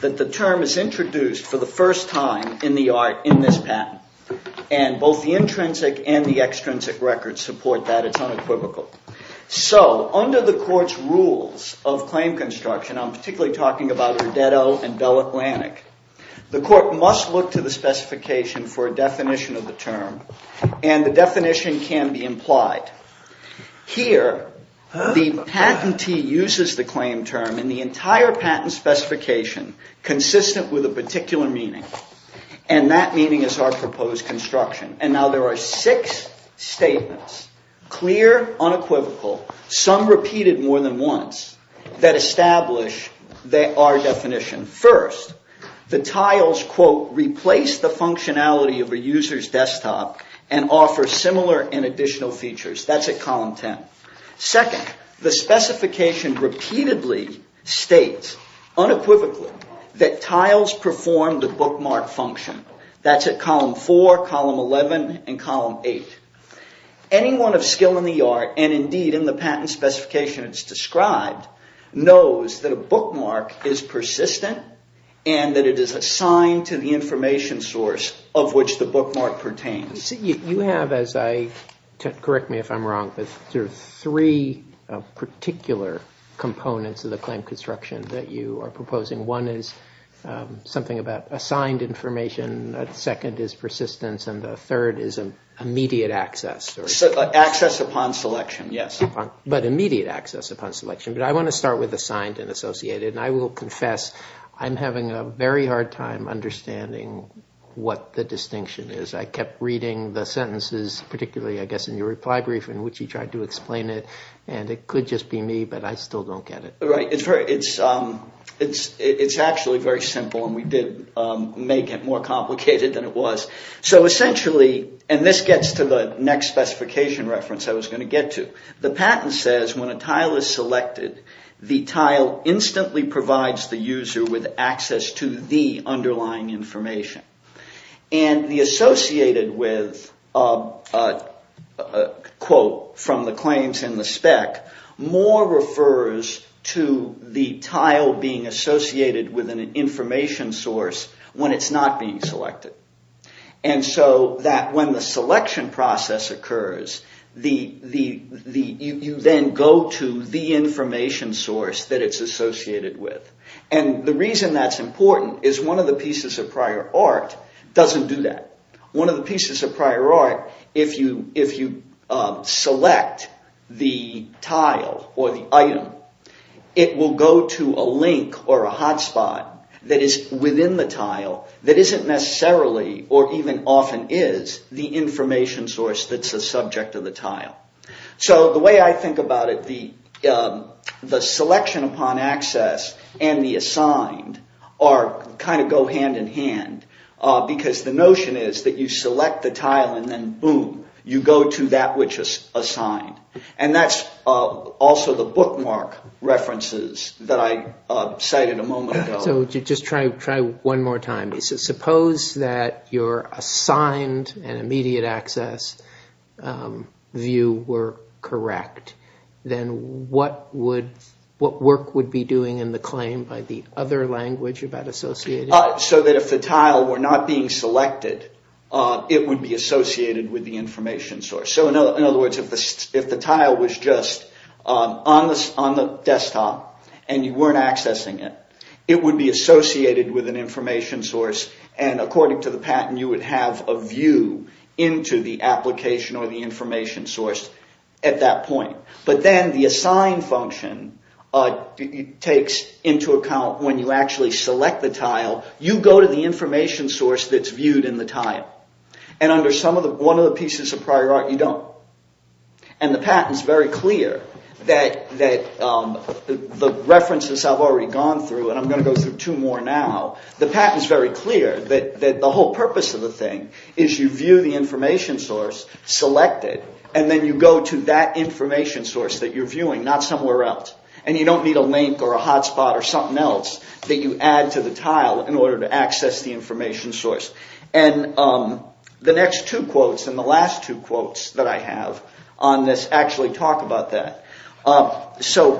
that the term is introduced for the first time in the art in this patent, and both the intrinsic and the extrinsic records support that. It's unequivocal. So under the Court's rules of claim construction, I'm particularly talking about Rodeto and Bell Atlantic, the Court must look to the specification for a definition of the term, and the definition can be implied. Here, the patentee uses the claim term in the entire patent specification consistent with a particular meaning, and that meaning is our proposed construction. And now there are six statements, clear, unequivocal, some repeated more than once, that establish our definition. First, the tiles, quote, replace the functionality of a user's desktop and offer similar and additional features. That's at column 10. Second, the specification repeatedly states, unequivocally, that tiles perform the bookmark function. That's at column 4, column 11, and column 8. Anyone of skill in the art, and indeed in the patent specification it's described, knows that a bookmark is persistent and that it is assigned to the information source of which the bookmark pertains. You have, as I, correct me if I'm wrong, but there are three particular components of the claim construction that you are proposing. One is something about assigned information, second is persistence, and the third is immediate access. Access upon selection, yes. But immediate access upon selection. But I want to start with assigned and associated, and I will confess I'm having a very hard time understanding what the distinction is. I kept reading the sentences, particularly, I guess, in your reply brief in which you tried to explain it, and it could just be me, but I still don't get it. Right. It's actually very simple, and we did make it more complicated than it was. So essentially, and this gets to the next specification reference I was going to get to, the patent says when a tile is selected, the tile instantly provides the user with access to the underlying information. And the associated with quote from the claims in the spec more refers to the tile being associated with an information source when it's not being selected. And so that when the selection process occurs, you then go to the information source that is prior art, doesn't do that. One of the pieces of prior art, if you select the tile or the item, it will go to a link or a hotspot that is within the tile that isn't necessarily or even often is the information source that's the subject of the tile. So the way I think about it, the selection upon access and the assigned are kind of go hand in hand, because the notion is that you select the tile and then boom, you go to that which is assigned. And that's also the bookmark references that I cited a moment ago. So just try one more time. Suppose that your assigned and immediate access view were correct, then what work would be doing in the claim by the other language about associated? So that if the tile were not being selected, it would be associated with the information source. So in other words, if the tile was just on the desktop and you weren't accessing it, it would be associated with an information source and according to the patent you would have a view into the application or the information source at that point. But then the assigned function takes into account when you actually select the tile, you go to the information source that's viewed in the tile. And under one of the pieces of prior art you don't. And the patent is very clear that the references I've already gone through, and I'm going to go through two more now, the patent is very clear that the whole purpose of the thing is you view the information source, select it, and then you go to that information source that you're viewing, not somewhere else. And you don't need a link or a hotspot or something else that you add to the tile in order to access the information source. And the next two quotes and the last two quotes that I have on this actually talk about that. So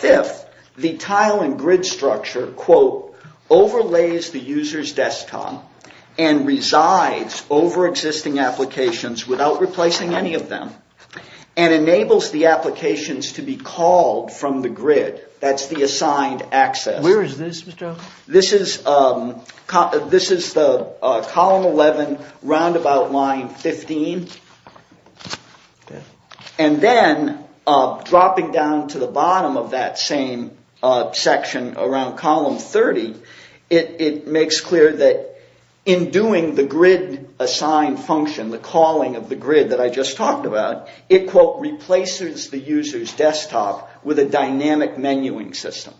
fifth, the tile and grid structure, quote, overlays the user's desktop and resides over existing applications without replacing any of them. And enables the applications to be called from the grid. That's the assigned access. Where is this, Mr. O? This is the column 11 roundabout line 15. And then dropping down to the bottom of that same section around column 30, it makes clear that in doing the grid assigned function, the calling of the grid that I just talked about, it, quote, replaces the user's desktop with a dynamic menuing system.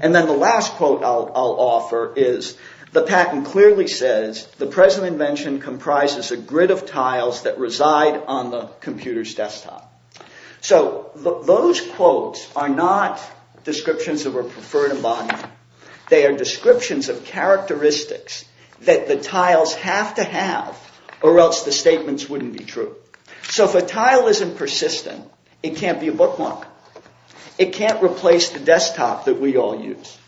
And then the last quote I'll offer is the patent clearly says the present invention comprises a grid of tiles that reside on the computer's desktop. So those quotes are not descriptions of a preferred embodiment. They are descriptions of characteristics that the tiles have to have or else the statements wouldn't be true. So if a tile isn't persistent, it can't be a bookmark. It can't replace the desktop that we all use.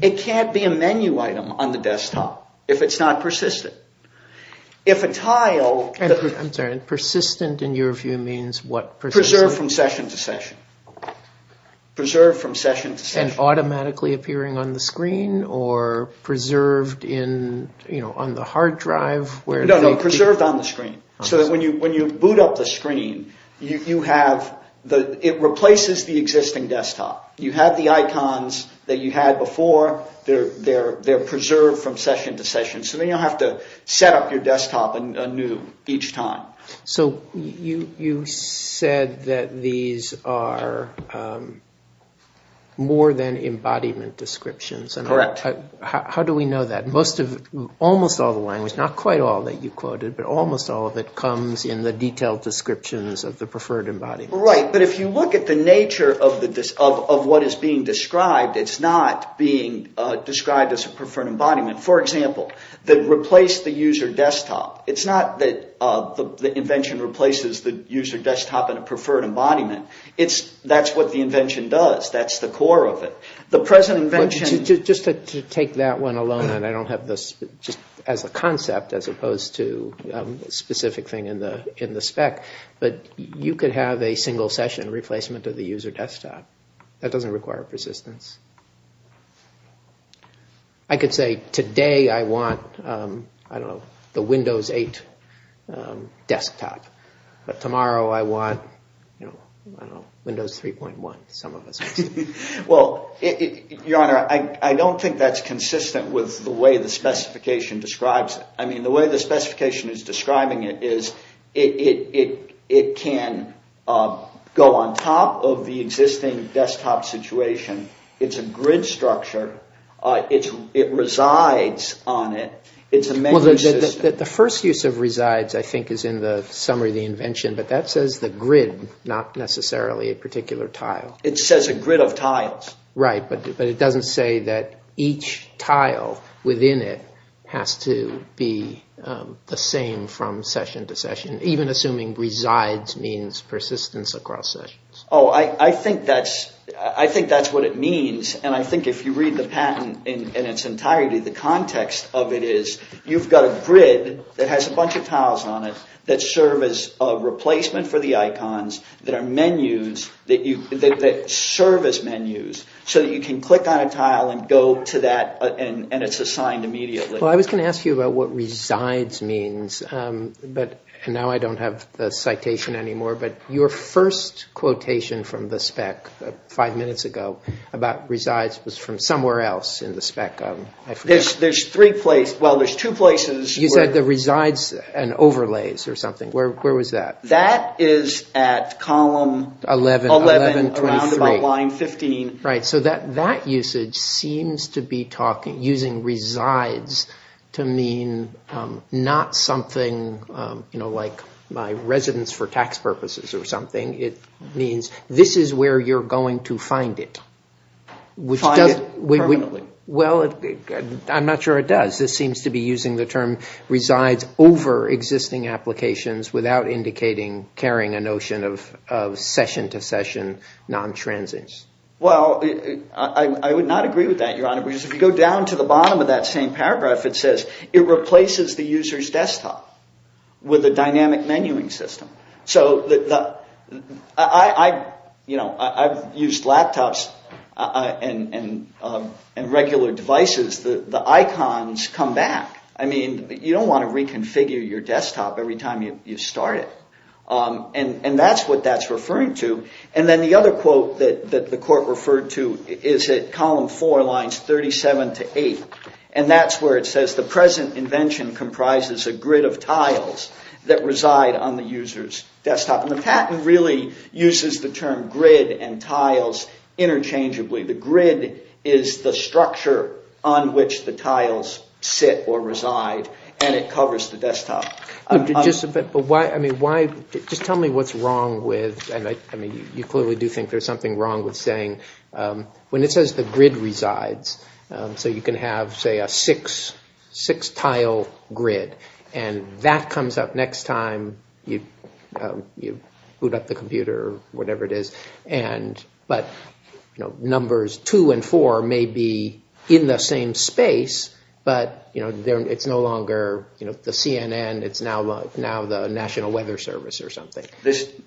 It can't be a menu item on the desktop if it's not persistent. If a tile I'm sorry, persistent in your view means what? Preserved from session to session. Preserved from session to session. So it's automatically appearing on the screen or preserved in, you know, on the hard drive where... No, no, preserved on the screen. So that when you boot up the screen, you have the, it replaces the existing desktop. You have the icons that you had before. They're preserved from session to session. So then you'll have to set up your desktop anew each time. So you said that these are more than embodiment descriptions. Correct. How do we know that? Most of, almost all the language, not quite all that you quoted, but almost all of it comes in the detailed descriptions of the preferred embodiment. Right. But if you look at the nature of what is being described, it's not being described as a preferred embodiment. For example, the replace the user desktop. It's not that the invention replaces the user desktop in a preferred embodiment. It's that's what the invention does. That's the core of it. The present invention... Just to take that one alone, and I don't have this just as a concept as opposed to a specific thing in the spec, but you could have a single session replacement of the user desktop. That I could say today, I want, I don't know, the Windows 8 desktop, but tomorrow I want, you know, Windows 3.1. Some of us. Well, Your Honor, I don't think that's consistent with the way the specification describes it. I mean, the way the specification is describing it is it can go on top of the existing desktop situation. It's a grid structure. It resides on it. It's a menu system. The first use of resides, I think, is in the summary of the invention, but that says the grid, not necessarily a particular tile. It says a grid of tiles. Right, but it doesn't say that each tile within it has to be the same from session to session, even assuming resides means persistence across sessions. Oh, I think that's what it means, and I think if you read the patent in its entirety, the context of it is you've got a grid that has a bunch of tiles on it that serve as a replacement for the icons, that are menus, that serve as menus, so that you can click on a tile and go to that, and it's assigned immediately. Well, I was going to ask you about what resides means, but now I don't have the citation anymore, but your first quotation from the spec five minutes ago about resides was from somewhere else in the spec. There's three places. Well, there's two places. You said the resides and overlays or something. Where was that? That is at column 11, around about line 15. Right, so that usage seems to be using resides to mean not something like my residence for tax purposes or something. It means this is where you're going to find it. Find it permanently. Well, I'm not sure it does. This seems to be using the term resides over existing applications without indicating carrying a notion of session to session non-transits. Well, I would not agree with that, Your Honor, because if you go down to the bottom of that same paragraph, it says it replaces the user's desktop with a dynamic menuing system. I've used laptops and regular devices. The icons come back. You don't want to reconfigure your desktop every time you start it, and that's what that's referring to. And then the other quote that the Court referred to is at column 4, lines 37 to 8, and that's where it says the present invention comprises a grid of tiles that reside on the user's desktop, and the patent really uses the term grid and tiles interchangeably. The grid is the structure on which the tiles sit or reside, and it covers the desktop. But just tell me what's wrong with, I mean, you clearly do think there's something wrong with saying, when it says the grid resides, so you can have, say, a six-tile grid, and that comes up next time you boot up the computer or whatever it is, but numbers 2 and 4 may be in the same space, but it's no longer the CNN, it's now the National Weather Service or something.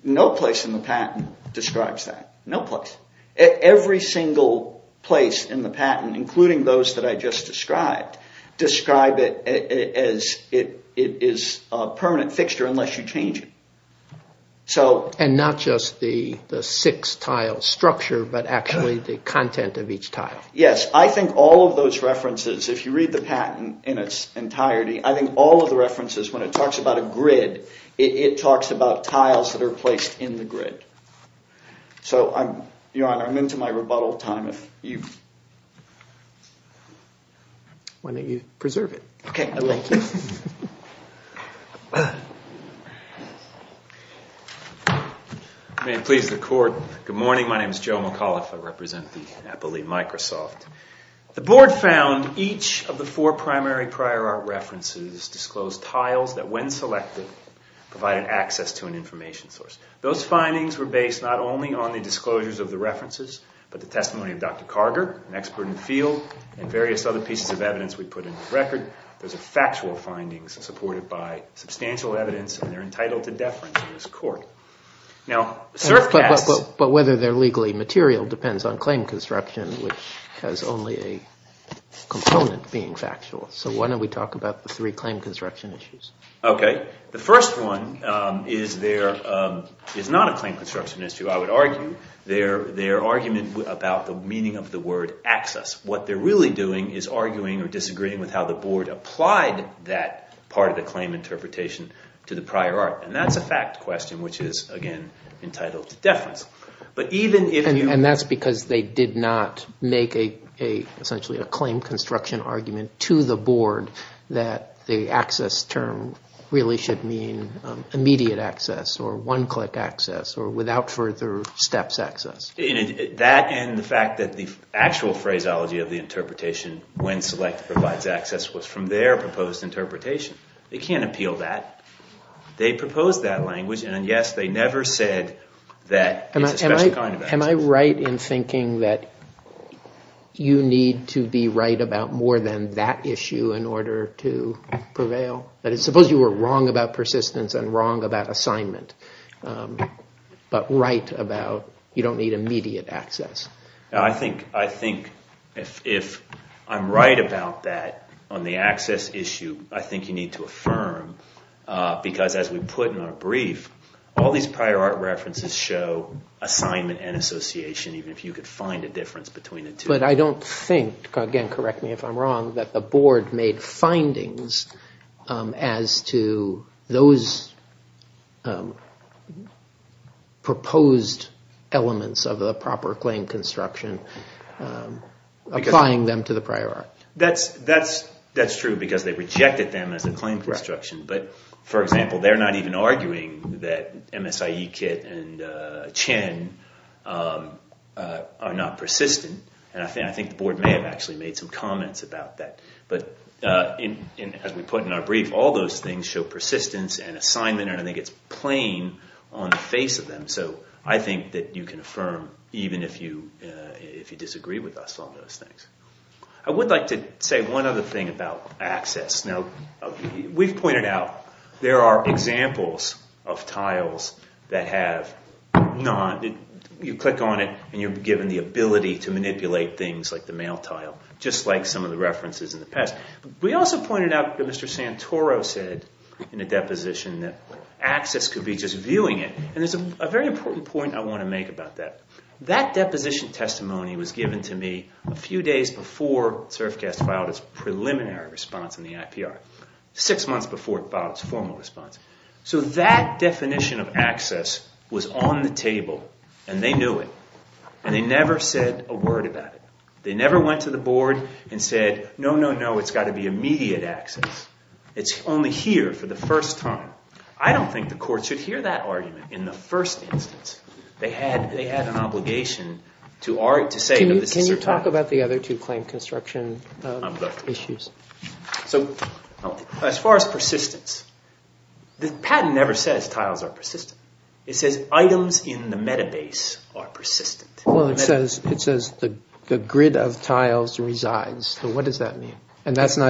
No place in the patent describes that. No place. Every single place in the patent, including those that I just described, describe it as a permanent fixture unless you change it. And not just the six-tile structure, but actually the content of each tile. Yes, I think all of those references, if you read the patent in its entirety, I think all of the references, when it talks about a grid, it talks about tiles that are placed in the grid. So, Your Honor, I'm into my rebuttal time if you... Why don't you preserve it? Okay, I will. May it please the Court, good morning, my name is Joe McAuliffe, I represent the NAPALEE Microsoft. The Board found each of the four primary prior art references disclosed tiles that, when selected, provided access to an information source. Those findings were based not only on the disclosures of the references, but the testimony of Dr. Carter, an expert in the field, and various other pieces of evidence we put in the record. Those are factual findings supported by substantial evidence, and they're entitled to deference in this court. But whether they're legally material depends on claim construction, which has only a component being factual. So why don't we talk about the three claim construction issues? Okay, the first one is not a claim construction issue, I would argue. Their argument about the meaning of the word access. What they're really doing is arguing or disagreeing with how the Board applied that part of the claim interpretation to the prior art. And that's a fact question, which is, again, entitled to deference. And that's because they did not make, essentially, a claim construction argument to the Board that the access term really should mean immediate access, or one-click access, or without further steps access. That, and the fact that the actual phraseology of the interpretation, when selected provides access, was from their proposed interpretation. They can't appeal that. They proposed that language, and yes, they never said that it's a special kind of access. Am I right in thinking that you need to be right about more than that issue in order to prevail? Suppose you were wrong about persistence and wrong about assignment, but right about you don't need immediate access. I think if I'm right about that on the access issue, I think you need to affirm, because as we put in our brief, all these prior art references show assignment and association, even if you could find a difference between the two. But I don't think, again, correct me if I'm wrong, that the Board made findings as to those proposed elements of the proper claim construction, applying them to the prior art. That's true, because they rejected them as a claim construction. But, for example, they're not even arguing that MSIE kit and CHIN are not persistent, and I think the Board may have actually made some comments about that. But as we put in our brief, all those things show persistence and assignment, and I think it's plain on the face of them. So I think that you can affirm, even if you disagree with us on those things. I would like to say one other thing about access. Now, we've pointed out there are examples of tiles that have not...you click on it and you're given the ability to manipulate things like the mail tile, just like some of the references in the past. We also pointed out that Mr. Santoro said in a deposition that access could be just viewing it, and there's a very important point I want to make about that. That deposition testimony was given to me a few days before SERFCAS filed its preliminary response in the IPR, six months before it filed its formal response. So that definition of access was on the table, and they knew it, and they never said a word about it. They never went to the court. It's got to be immediate access. It's only here for the first time. I don't think the court should hear that argument in the first instance. They had an obligation to say that this is certain... Can you talk about the other two claim construction issues? So as far as persistence, the patent never says tiles are persistent. It says items in the metabase are persistent. Well, it says the grid of tiles resides. So what does that mean? And that's in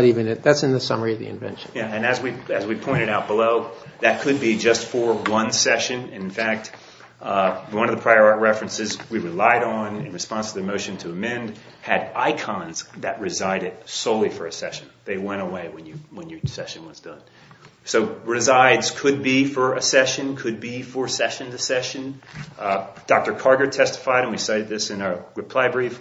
the summary of the invention. Yeah, and as we pointed out below, that could be just for one session. In fact, one of the prior art references we relied on in response to the motion to amend had icons that resided solely for a session. They went away when your session was done. So resides could be for a session, could be for session to session. Dr. Carter testified, and we cited this in our reply brief,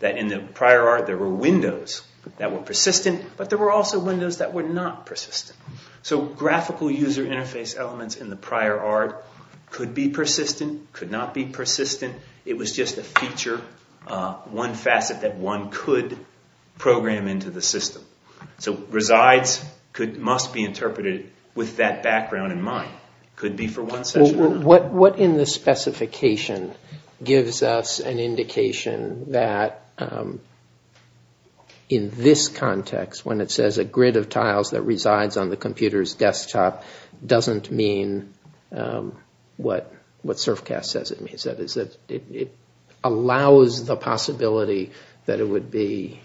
that in the prior art there were windows that were persistent, but there were also windows that were not persistent. So graphical user interface elements in the prior art could be persistent, could not be persistent. It was just a feature, one facet that one could program into the system. So it must be interpreted with that background in mind. It could be for one session or another. What in the specification gives us an indication that in this context, when it says a grid of tiles that resides on the computer's desktop, doesn't mean what SURFCAST says it means? That is, it allows the possibility that it would be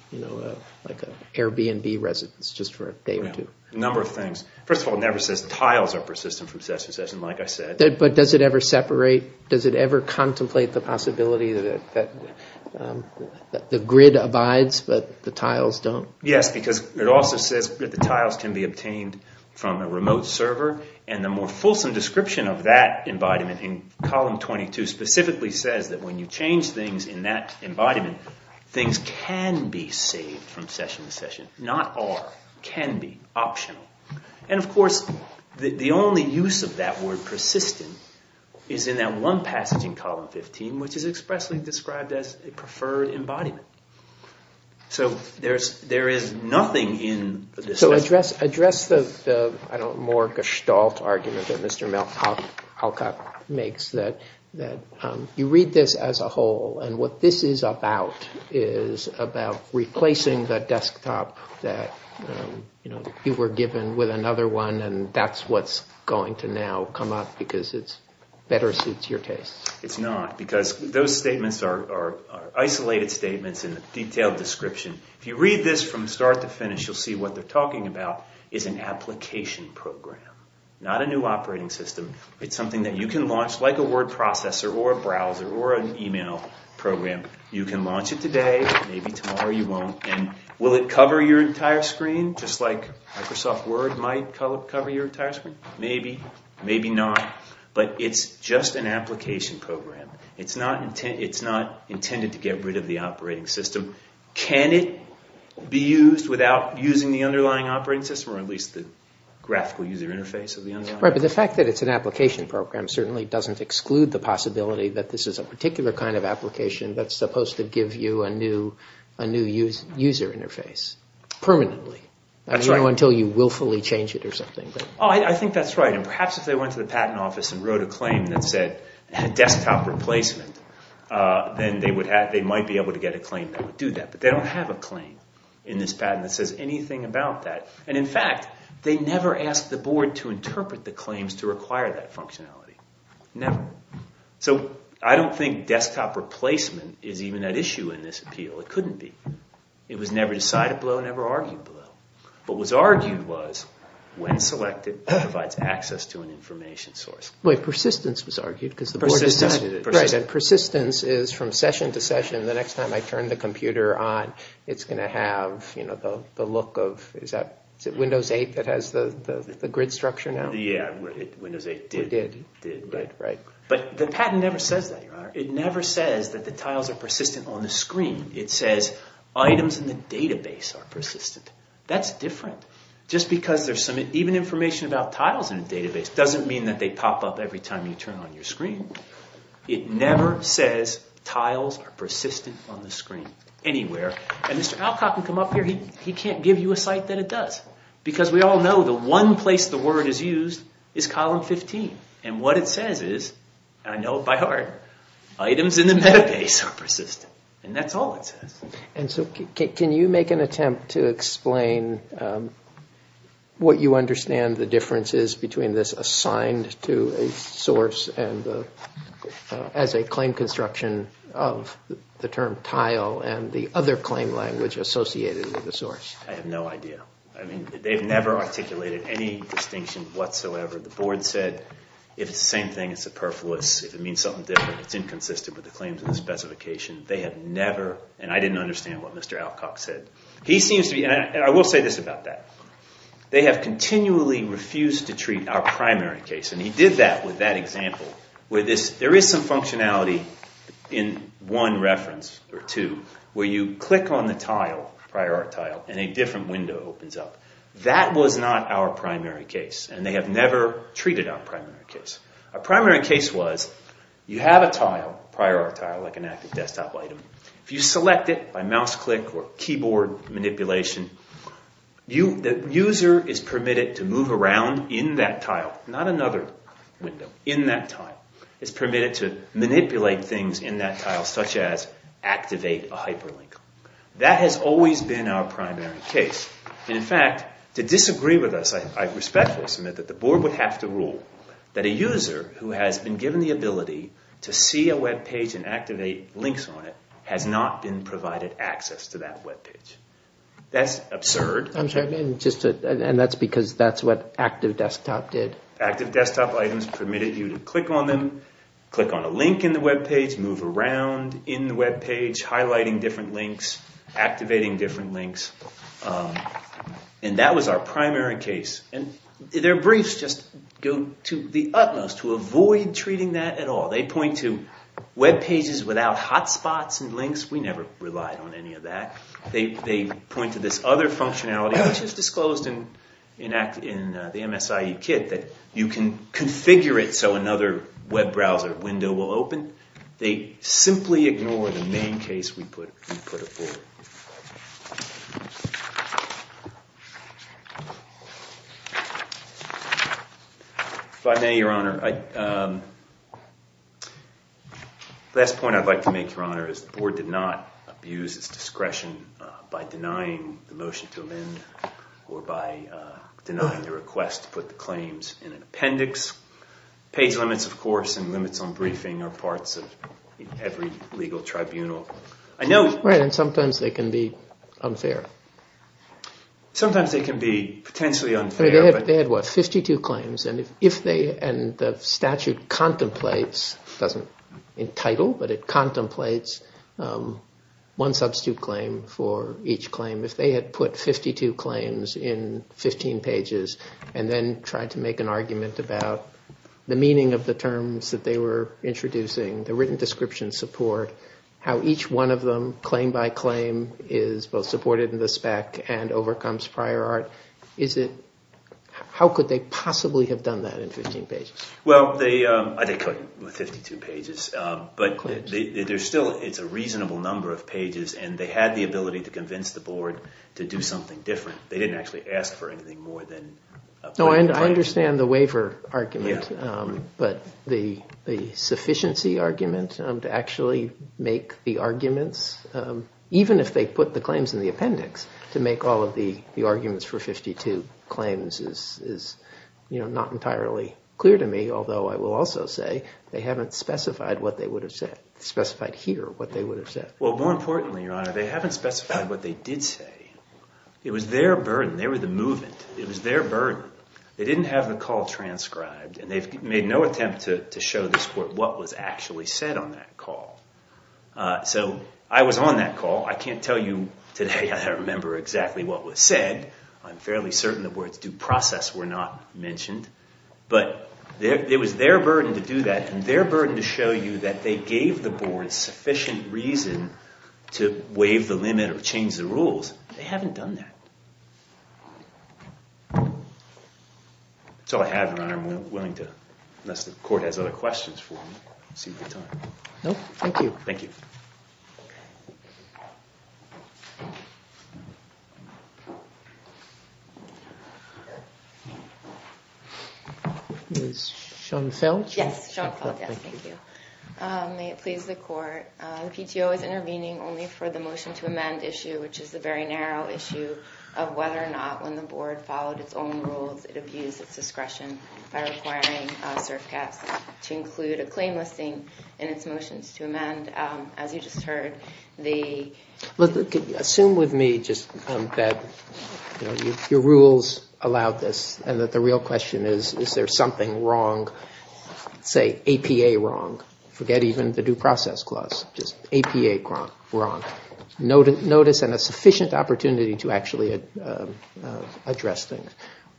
like an Airbnb residence just for a day or two. A number of things. First of all, it never says tiles are persistent from session to session, like I said. But does it ever separate, does it ever contemplate the possibility that the grid abides, but the tiles don't? Yes, because it also says that the tiles can be obtained from a remote server, and the more fulsome description of that embodiment in column 22 specifically says that when you change things in that embodiment, things can be saved from session to session. Not are, can be, optional. And of course, the only use of that word persistent is in that one passage in column 15, which is expressly described as a preferred embodiment. So there is nothing in the discussion. Address the more gestalt argument that Mr. Malkoff makes, that you read this as a whole, and what this is about is about replacing the desktop that you were given with another one, and that's what's going to now come up, because it better suits your tastes. It's not, because those statements are isolated statements in a detailed description. If you read this from start to finish, you'll see what they're talking about is an application program, not a new operating system. It's something that you can launch like a word processor or a browser or an email program. You can launch it today, maybe tomorrow you won't, and will it cover your entire screen, just like Microsoft Word might cover your entire screen? Maybe, maybe not, but it's just an application program. It's not intended to get rid of the operating system. Can it be used without using the underlying operating system, or at least the graphical user interface of the underlying operating system? Right, but the fact that it's an application program certainly doesn't exclude the possibility that this is a particular kind of application that's supposed to give you a new user interface permanently, until you willfully change it or something. I think that's right, and perhaps if they went to the patent office and wrote a claim that said desktop replacement, then they might be able to get a claim that would do that, but they don't have a claim in this patent that says anything about that, and in fact, they never asked the board to interpret the claims to require that functionality. Never. So I don't think desktop replacement is even at issue in this appeal, it couldn't be. It was never decided below, never argued below. What was argued was, when selected, it provides access to an information source. Wait, persistence was argued, because the board decided it. Persistence, persistence. Right, and persistence is from session to session, the next time I turn the computer on, it's going to have, you know, the look of, is it Windows 8 that has the grid structure now? Yeah, Windows 8 did. Right, right. But the patent never says that, Your Honor. It never says that the tiles are persistent on the screen. It says items in the database are persistent. That's different. Just because there's some, even information about tiles in a database doesn't mean that they pop up every time you turn on your screen. It never says tiles are persistent on the screen. Anywhere. And Mr. Alcock can come up here, he can't give you a site that it does. Because we all know the one place the word is used is column 15. And what it says is, and I know it by heart, items in the database are persistent. And that's all it says. And so can you make an attempt to explain what you understand the difference is between this assigned to a source and the, as a claim construction of the term tile and the other claim language associated with the source? I have no idea. I mean, they've never articulated any distinction whatsoever. The board said if it's the same thing, it's superfluous. If it means something different, it's inconsistent with the claims and the specification. They have never, and I didn't understand what Mr. Alcock said. He seems to be, and I will say this about that. They have continually refused to treat our primary case, and he did that with that example, where there is some functionality in one reference or two, where you click on the tile, prior art tile, and a different window opens up. That was not our primary case, and they have never treated our primary case. Our primary case was, you have a tile, prior art tile, like an active desktop item. If you select it by mouse click or keyboard manipulation, the user is permitted to move around in that tile, not another window, in that tile. It's permitted to manipulate things in that tile, such as activate a hyperlink. That has always been our primary case, and in fact, to disagree with us, I respectfully submit that the board would have to rule that a user who has been given the ability to see a webpage and activate links on it has not been provided access to that webpage. That's absurd. I'm sorry, and that's because that's what active desktop did. Active desktop items permitted you to click on them, click on a link in the webpage, move around in the webpage, highlighting different links, activating different links, and that was our primary case. Their briefs just go to the utmost to avoid treating that at all. They point to webpages without hotspots and links. We never relied on any of that. They point to this other functionality, which is disclosed in the MSIE kit, that you can configure it so another web browser window will open. They simply ignore the main case we put it forward. If I may, Your Honor, the last point I'd like to make, Your Honor, is the board did not deny the motion to amend or by denying the request to put the claims in an appendix. Page limits, of course, and limits on briefing are parts of every legal tribunal. I know- Right, and sometimes they can be unfair. Sometimes they can be potentially unfair, but- They had, what, 52 claims, and the statute contemplates, it doesn't entitle, but it contemplates one substitute claim for each claim. If they had put 52 claims in 15 pages and then tried to make an argument about the meaning of the terms that they were introducing, the written description support, how each one of them, claim by claim, is both supported in the spec and overcomes prior art, how could they possibly have done that in 15 pages? Well, they couldn't with 52 pages, but there's still, it's a reasonable number of pages, and they had the ability to convince the board to do something different. They didn't actually ask for anything more than- No, and I understand the waiver argument, but the sufficiency argument to actually make the arguments, even if they put the claims in the appendix, to make all of the arguments for 52 claims is not entirely clear to me, although I will also say they haven't specified what they would have said, specified here what they would have said. Well, more importantly, Your Honor, they haven't specified what they did say. It was their burden. They were the movement. It was their burden. They didn't have the call transcribed, and they've made no attempt to show this court what was actually said on that call. So, I was on that call. I can't tell you today that I remember exactly what was said. I'm fairly certain the words due process were not mentioned, but it was their burden to do that, and their burden to show you that they gave the board sufficient reason to waive the limit or change the rules. They haven't done that. That's all I have, Your Honor. I'm willing to, unless the court has other questions for me, see if we have time. No? Thank you. Thank you. Ms. Schoenfeld? Yes, Sean Feld, yes, thank you. May it please the court, the PTO is intervening only for the motion to amend issue, which is a very narrow issue of whether or not, when the board followed its own rules, it abused its discretion by requiring SERFCAS to include a claim listing in its motions to amend, as you just heard, the... Look, assume with me just that your rules allowed this, and that the real question is, is there something wrong, say, APA wrong? Forget even the due process clause. Just APA wrong. Notice and a sufficient opportunity to actually address things.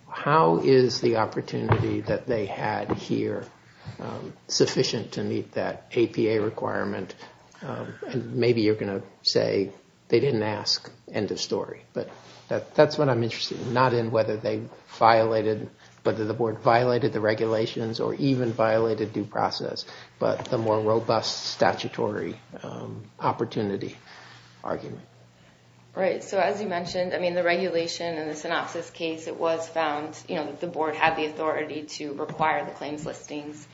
How is the opportunity that they had here sufficient to meet that APA requirement? And maybe you're going to say, they didn't ask, end of story. But that's what I'm interested in, not in whether they violated, whether the board violated the regulations or even violated due process, but the more robust statutory opportunity argument. Right, so as you mentioned, the regulation in the synopsis case, it was found, the board had the authority to require the claims listings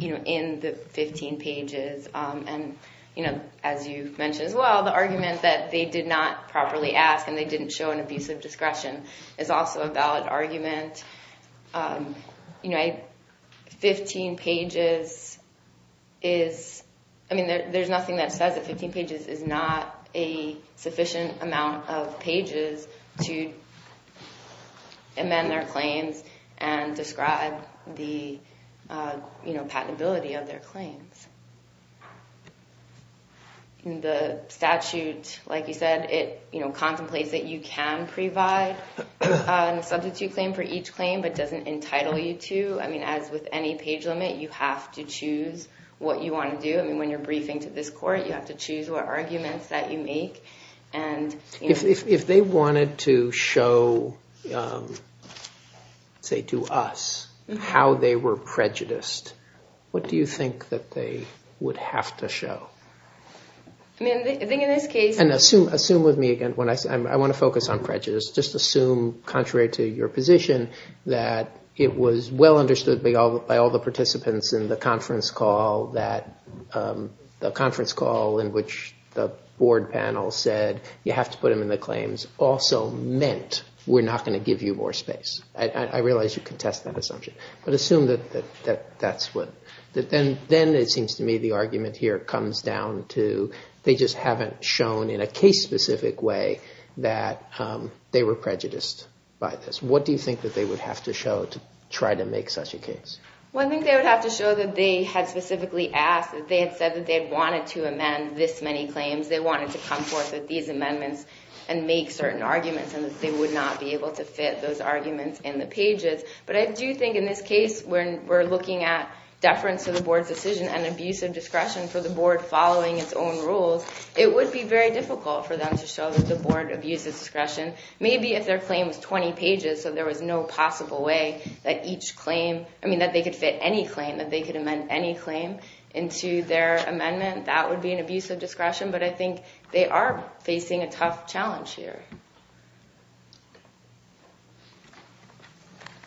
in the 15 pages. And as you mentioned as well, the argument that they did not properly ask, and they didn't show an abusive discretion, is also a valid argument. You know, 15 pages is... I mean, there's nothing that says that 15 pages is not a sufficient amount of pages to amend their claims and describe the patentability of their claims. The statute, like you said, it contemplates that you can provide a substitute claim for each claim, but doesn't entitle you to. I mean, as with any page limit, you have to choose what you want to do. I mean, when you're briefing to this court, you have to choose what arguments that you make. If they wanted to show, say to us, how they were prejudiced, what do you think that they would have to show? I mean, I think in this case... And assume with me again, I want to focus on prejudice. Just assume, contrary to your position, that it was well understood by all the participants in the conference call in which the board panel said, you have to put them in the claims, also meant we're not going to give you more space. I realize you contest that assumption, but assume that that's what... Then it seems to me the argument here comes down to, they just haven't shown in a case-specific way that they were prejudiced by this. What do you think that they would have to show to try to make such a case? Well, I think they would have to show that they had specifically asked, that they had said that they had wanted to amend this many claims. They wanted to come forth with these amendments and make certain arguments, and that they would not be able to fit those arguments in the pages. But I do think in this case, when we're looking at deference to the board's decision and abusive discretion for the board following its own rules, it would be very difficult for them to show that the board abuses discretion. Maybe if their claim was 20 pages, so there was no possible way that each claim... I mean, that they could fit any claim, that they could amend any claim into their amendment, that would be an abusive discretion. But I think they are facing a tough challenge here.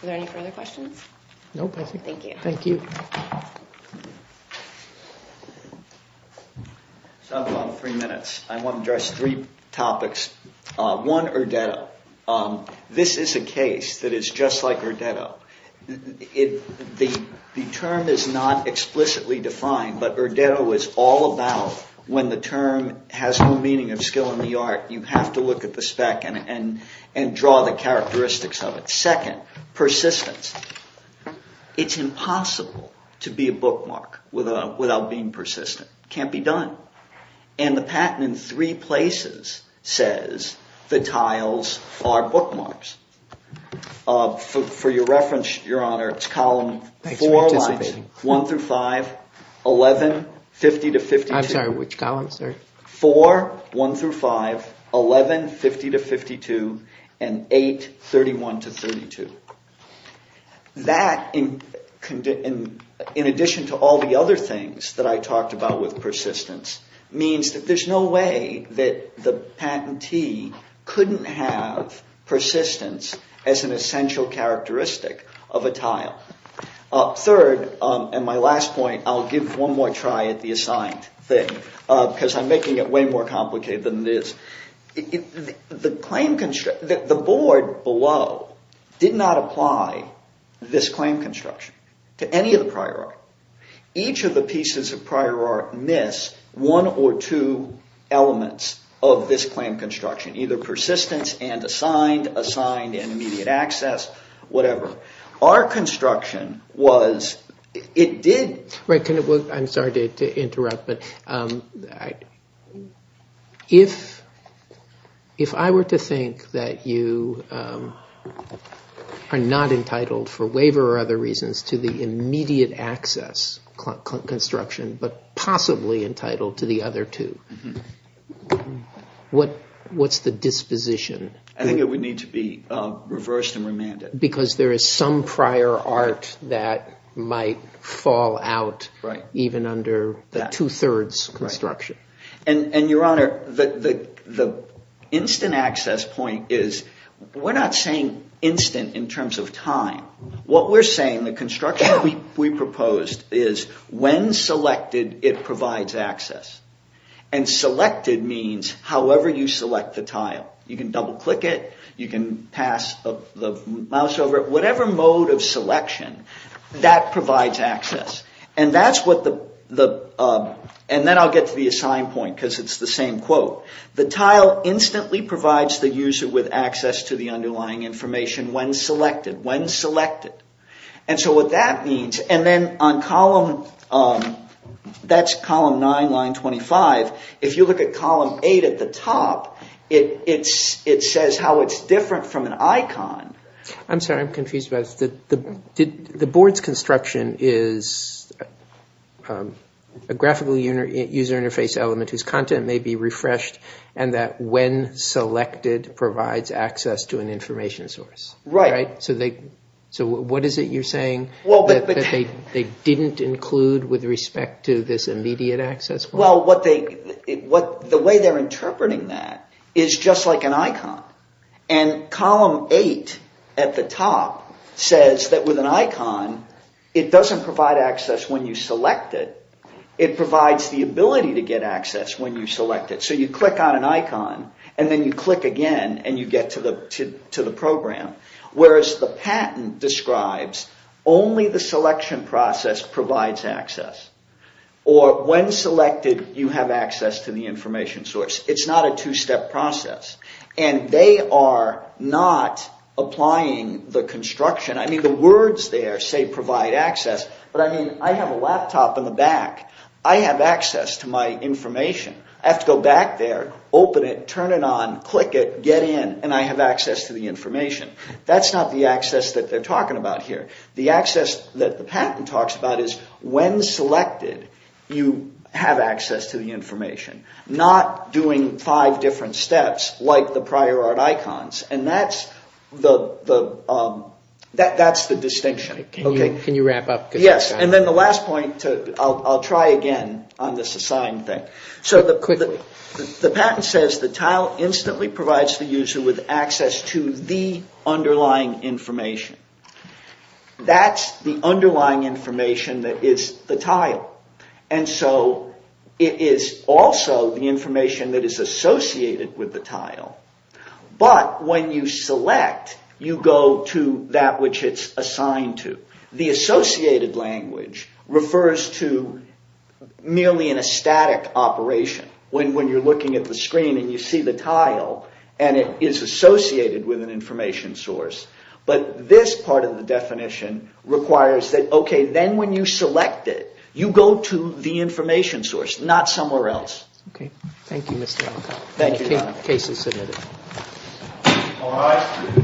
Are there any further questions? No, thank you. So I have about three minutes. I want to address three topics. One, Erdetto. This is a case that is just like Erdetto. The term is not explicitly defined, but Erdetto is all about when the term has no meaning of skill in the art, you have to look at the spec and draw the characteristics of it. Second, persistence. It's impossible to be a bookmark without being persistent. It can't be done. And the patent in three places says the tiles are bookmarks. For your reference, Your Honor, it's column 4, 1 through 5, 11, 50 to 52. I'm sorry, which column, sir? 4, 1 through 5, 11, 50 to 52, and 8, 31 to 32. That, in addition to all the other things that I talked about with persistence, means that there's no way that the patentee couldn't have persistence as an essential characteristic of a tile. Third, and my last point, I'll give one more try at the assigned thing, because I'm making it way more complicated than it is. The board below did not apply this claim construction to any of the prior art. Each of the pieces of prior art miss one or two elements of this claim construction, either persistence and assigned, assigned and immediate access, whatever. Our construction was, it did... I'm sorry to interrupt, but if I were to think that you are not entitled, for waiver or other reasons, to the immediate access construction, but possibly entitled to the other two, what's the disposition? I think it would need to be reversed and remanded. Because there is some prior art that might fall out, even under the two-thirds construction. Your Honor, the instant access point is, we're not saying instant in terms of time. What we're saying, the construction we proposed, is when selected, it provides access. Selected means however you select the tile. You can double-click it, you can pass the mouse over it, whatever mode of selection, that provides access. And that's what the... And then I'll get to the assigned point, because it's the same quote. The tile instantly provides the user with access to the underlying information when selected, when selected. And so what that means, and then on column... That's column 9, line 25. If you look at column 8 at the top, it says how it's different from an icon. I'm sorry, I'm confused about this. The board's construction is a graphical user interface element whose content may be refreshed, and that when selected provides access to an information source. Right. So what is it you're saying, that they didn't include with respect to this immediate access point? Well, the way they're interpreting that is just like an icon. And column 8 at the top says that with an icon, it doesn't provide access when you select it, it provides the ability to get access when you select it. So you click on an icon, and then you click again, and you get to the program. Whereas the patent describes only the selection process provides access. Or when selected, you have access to the information source. It's not a two-step process. And they are not applying the construction... I mean, the words there say provide access, but I mean, I have a laptop in the back. I have access to my information. I have to go back there, open it, turn it on, click it, get in, and I have access to the information. That's not the access that they're talking about here. The access that the patent talks about is when selected, you have access to the information. Not doing five different steps like the prior art icons. And that's the distinction. Can you wrap up? Yes, and then the last point, I'll try again on this assigned thing. So the patent says the tile instantly provides the user with access to the underlying information. That's the underlying information that is the tile. And so it is also the information that is associated with the tile. But when you select, you go to that which it's assigned to. The associated language refers to merely in a static operation. When you're looking at the screen and you see the tile, and it is associated with an information source. But this part of the definition requires that, okay, then when you select it, you go to the information source, not somewhere else. Okay. Thank you, Mr. Alcock. Thank you, John. The case is submitted. All rise, please.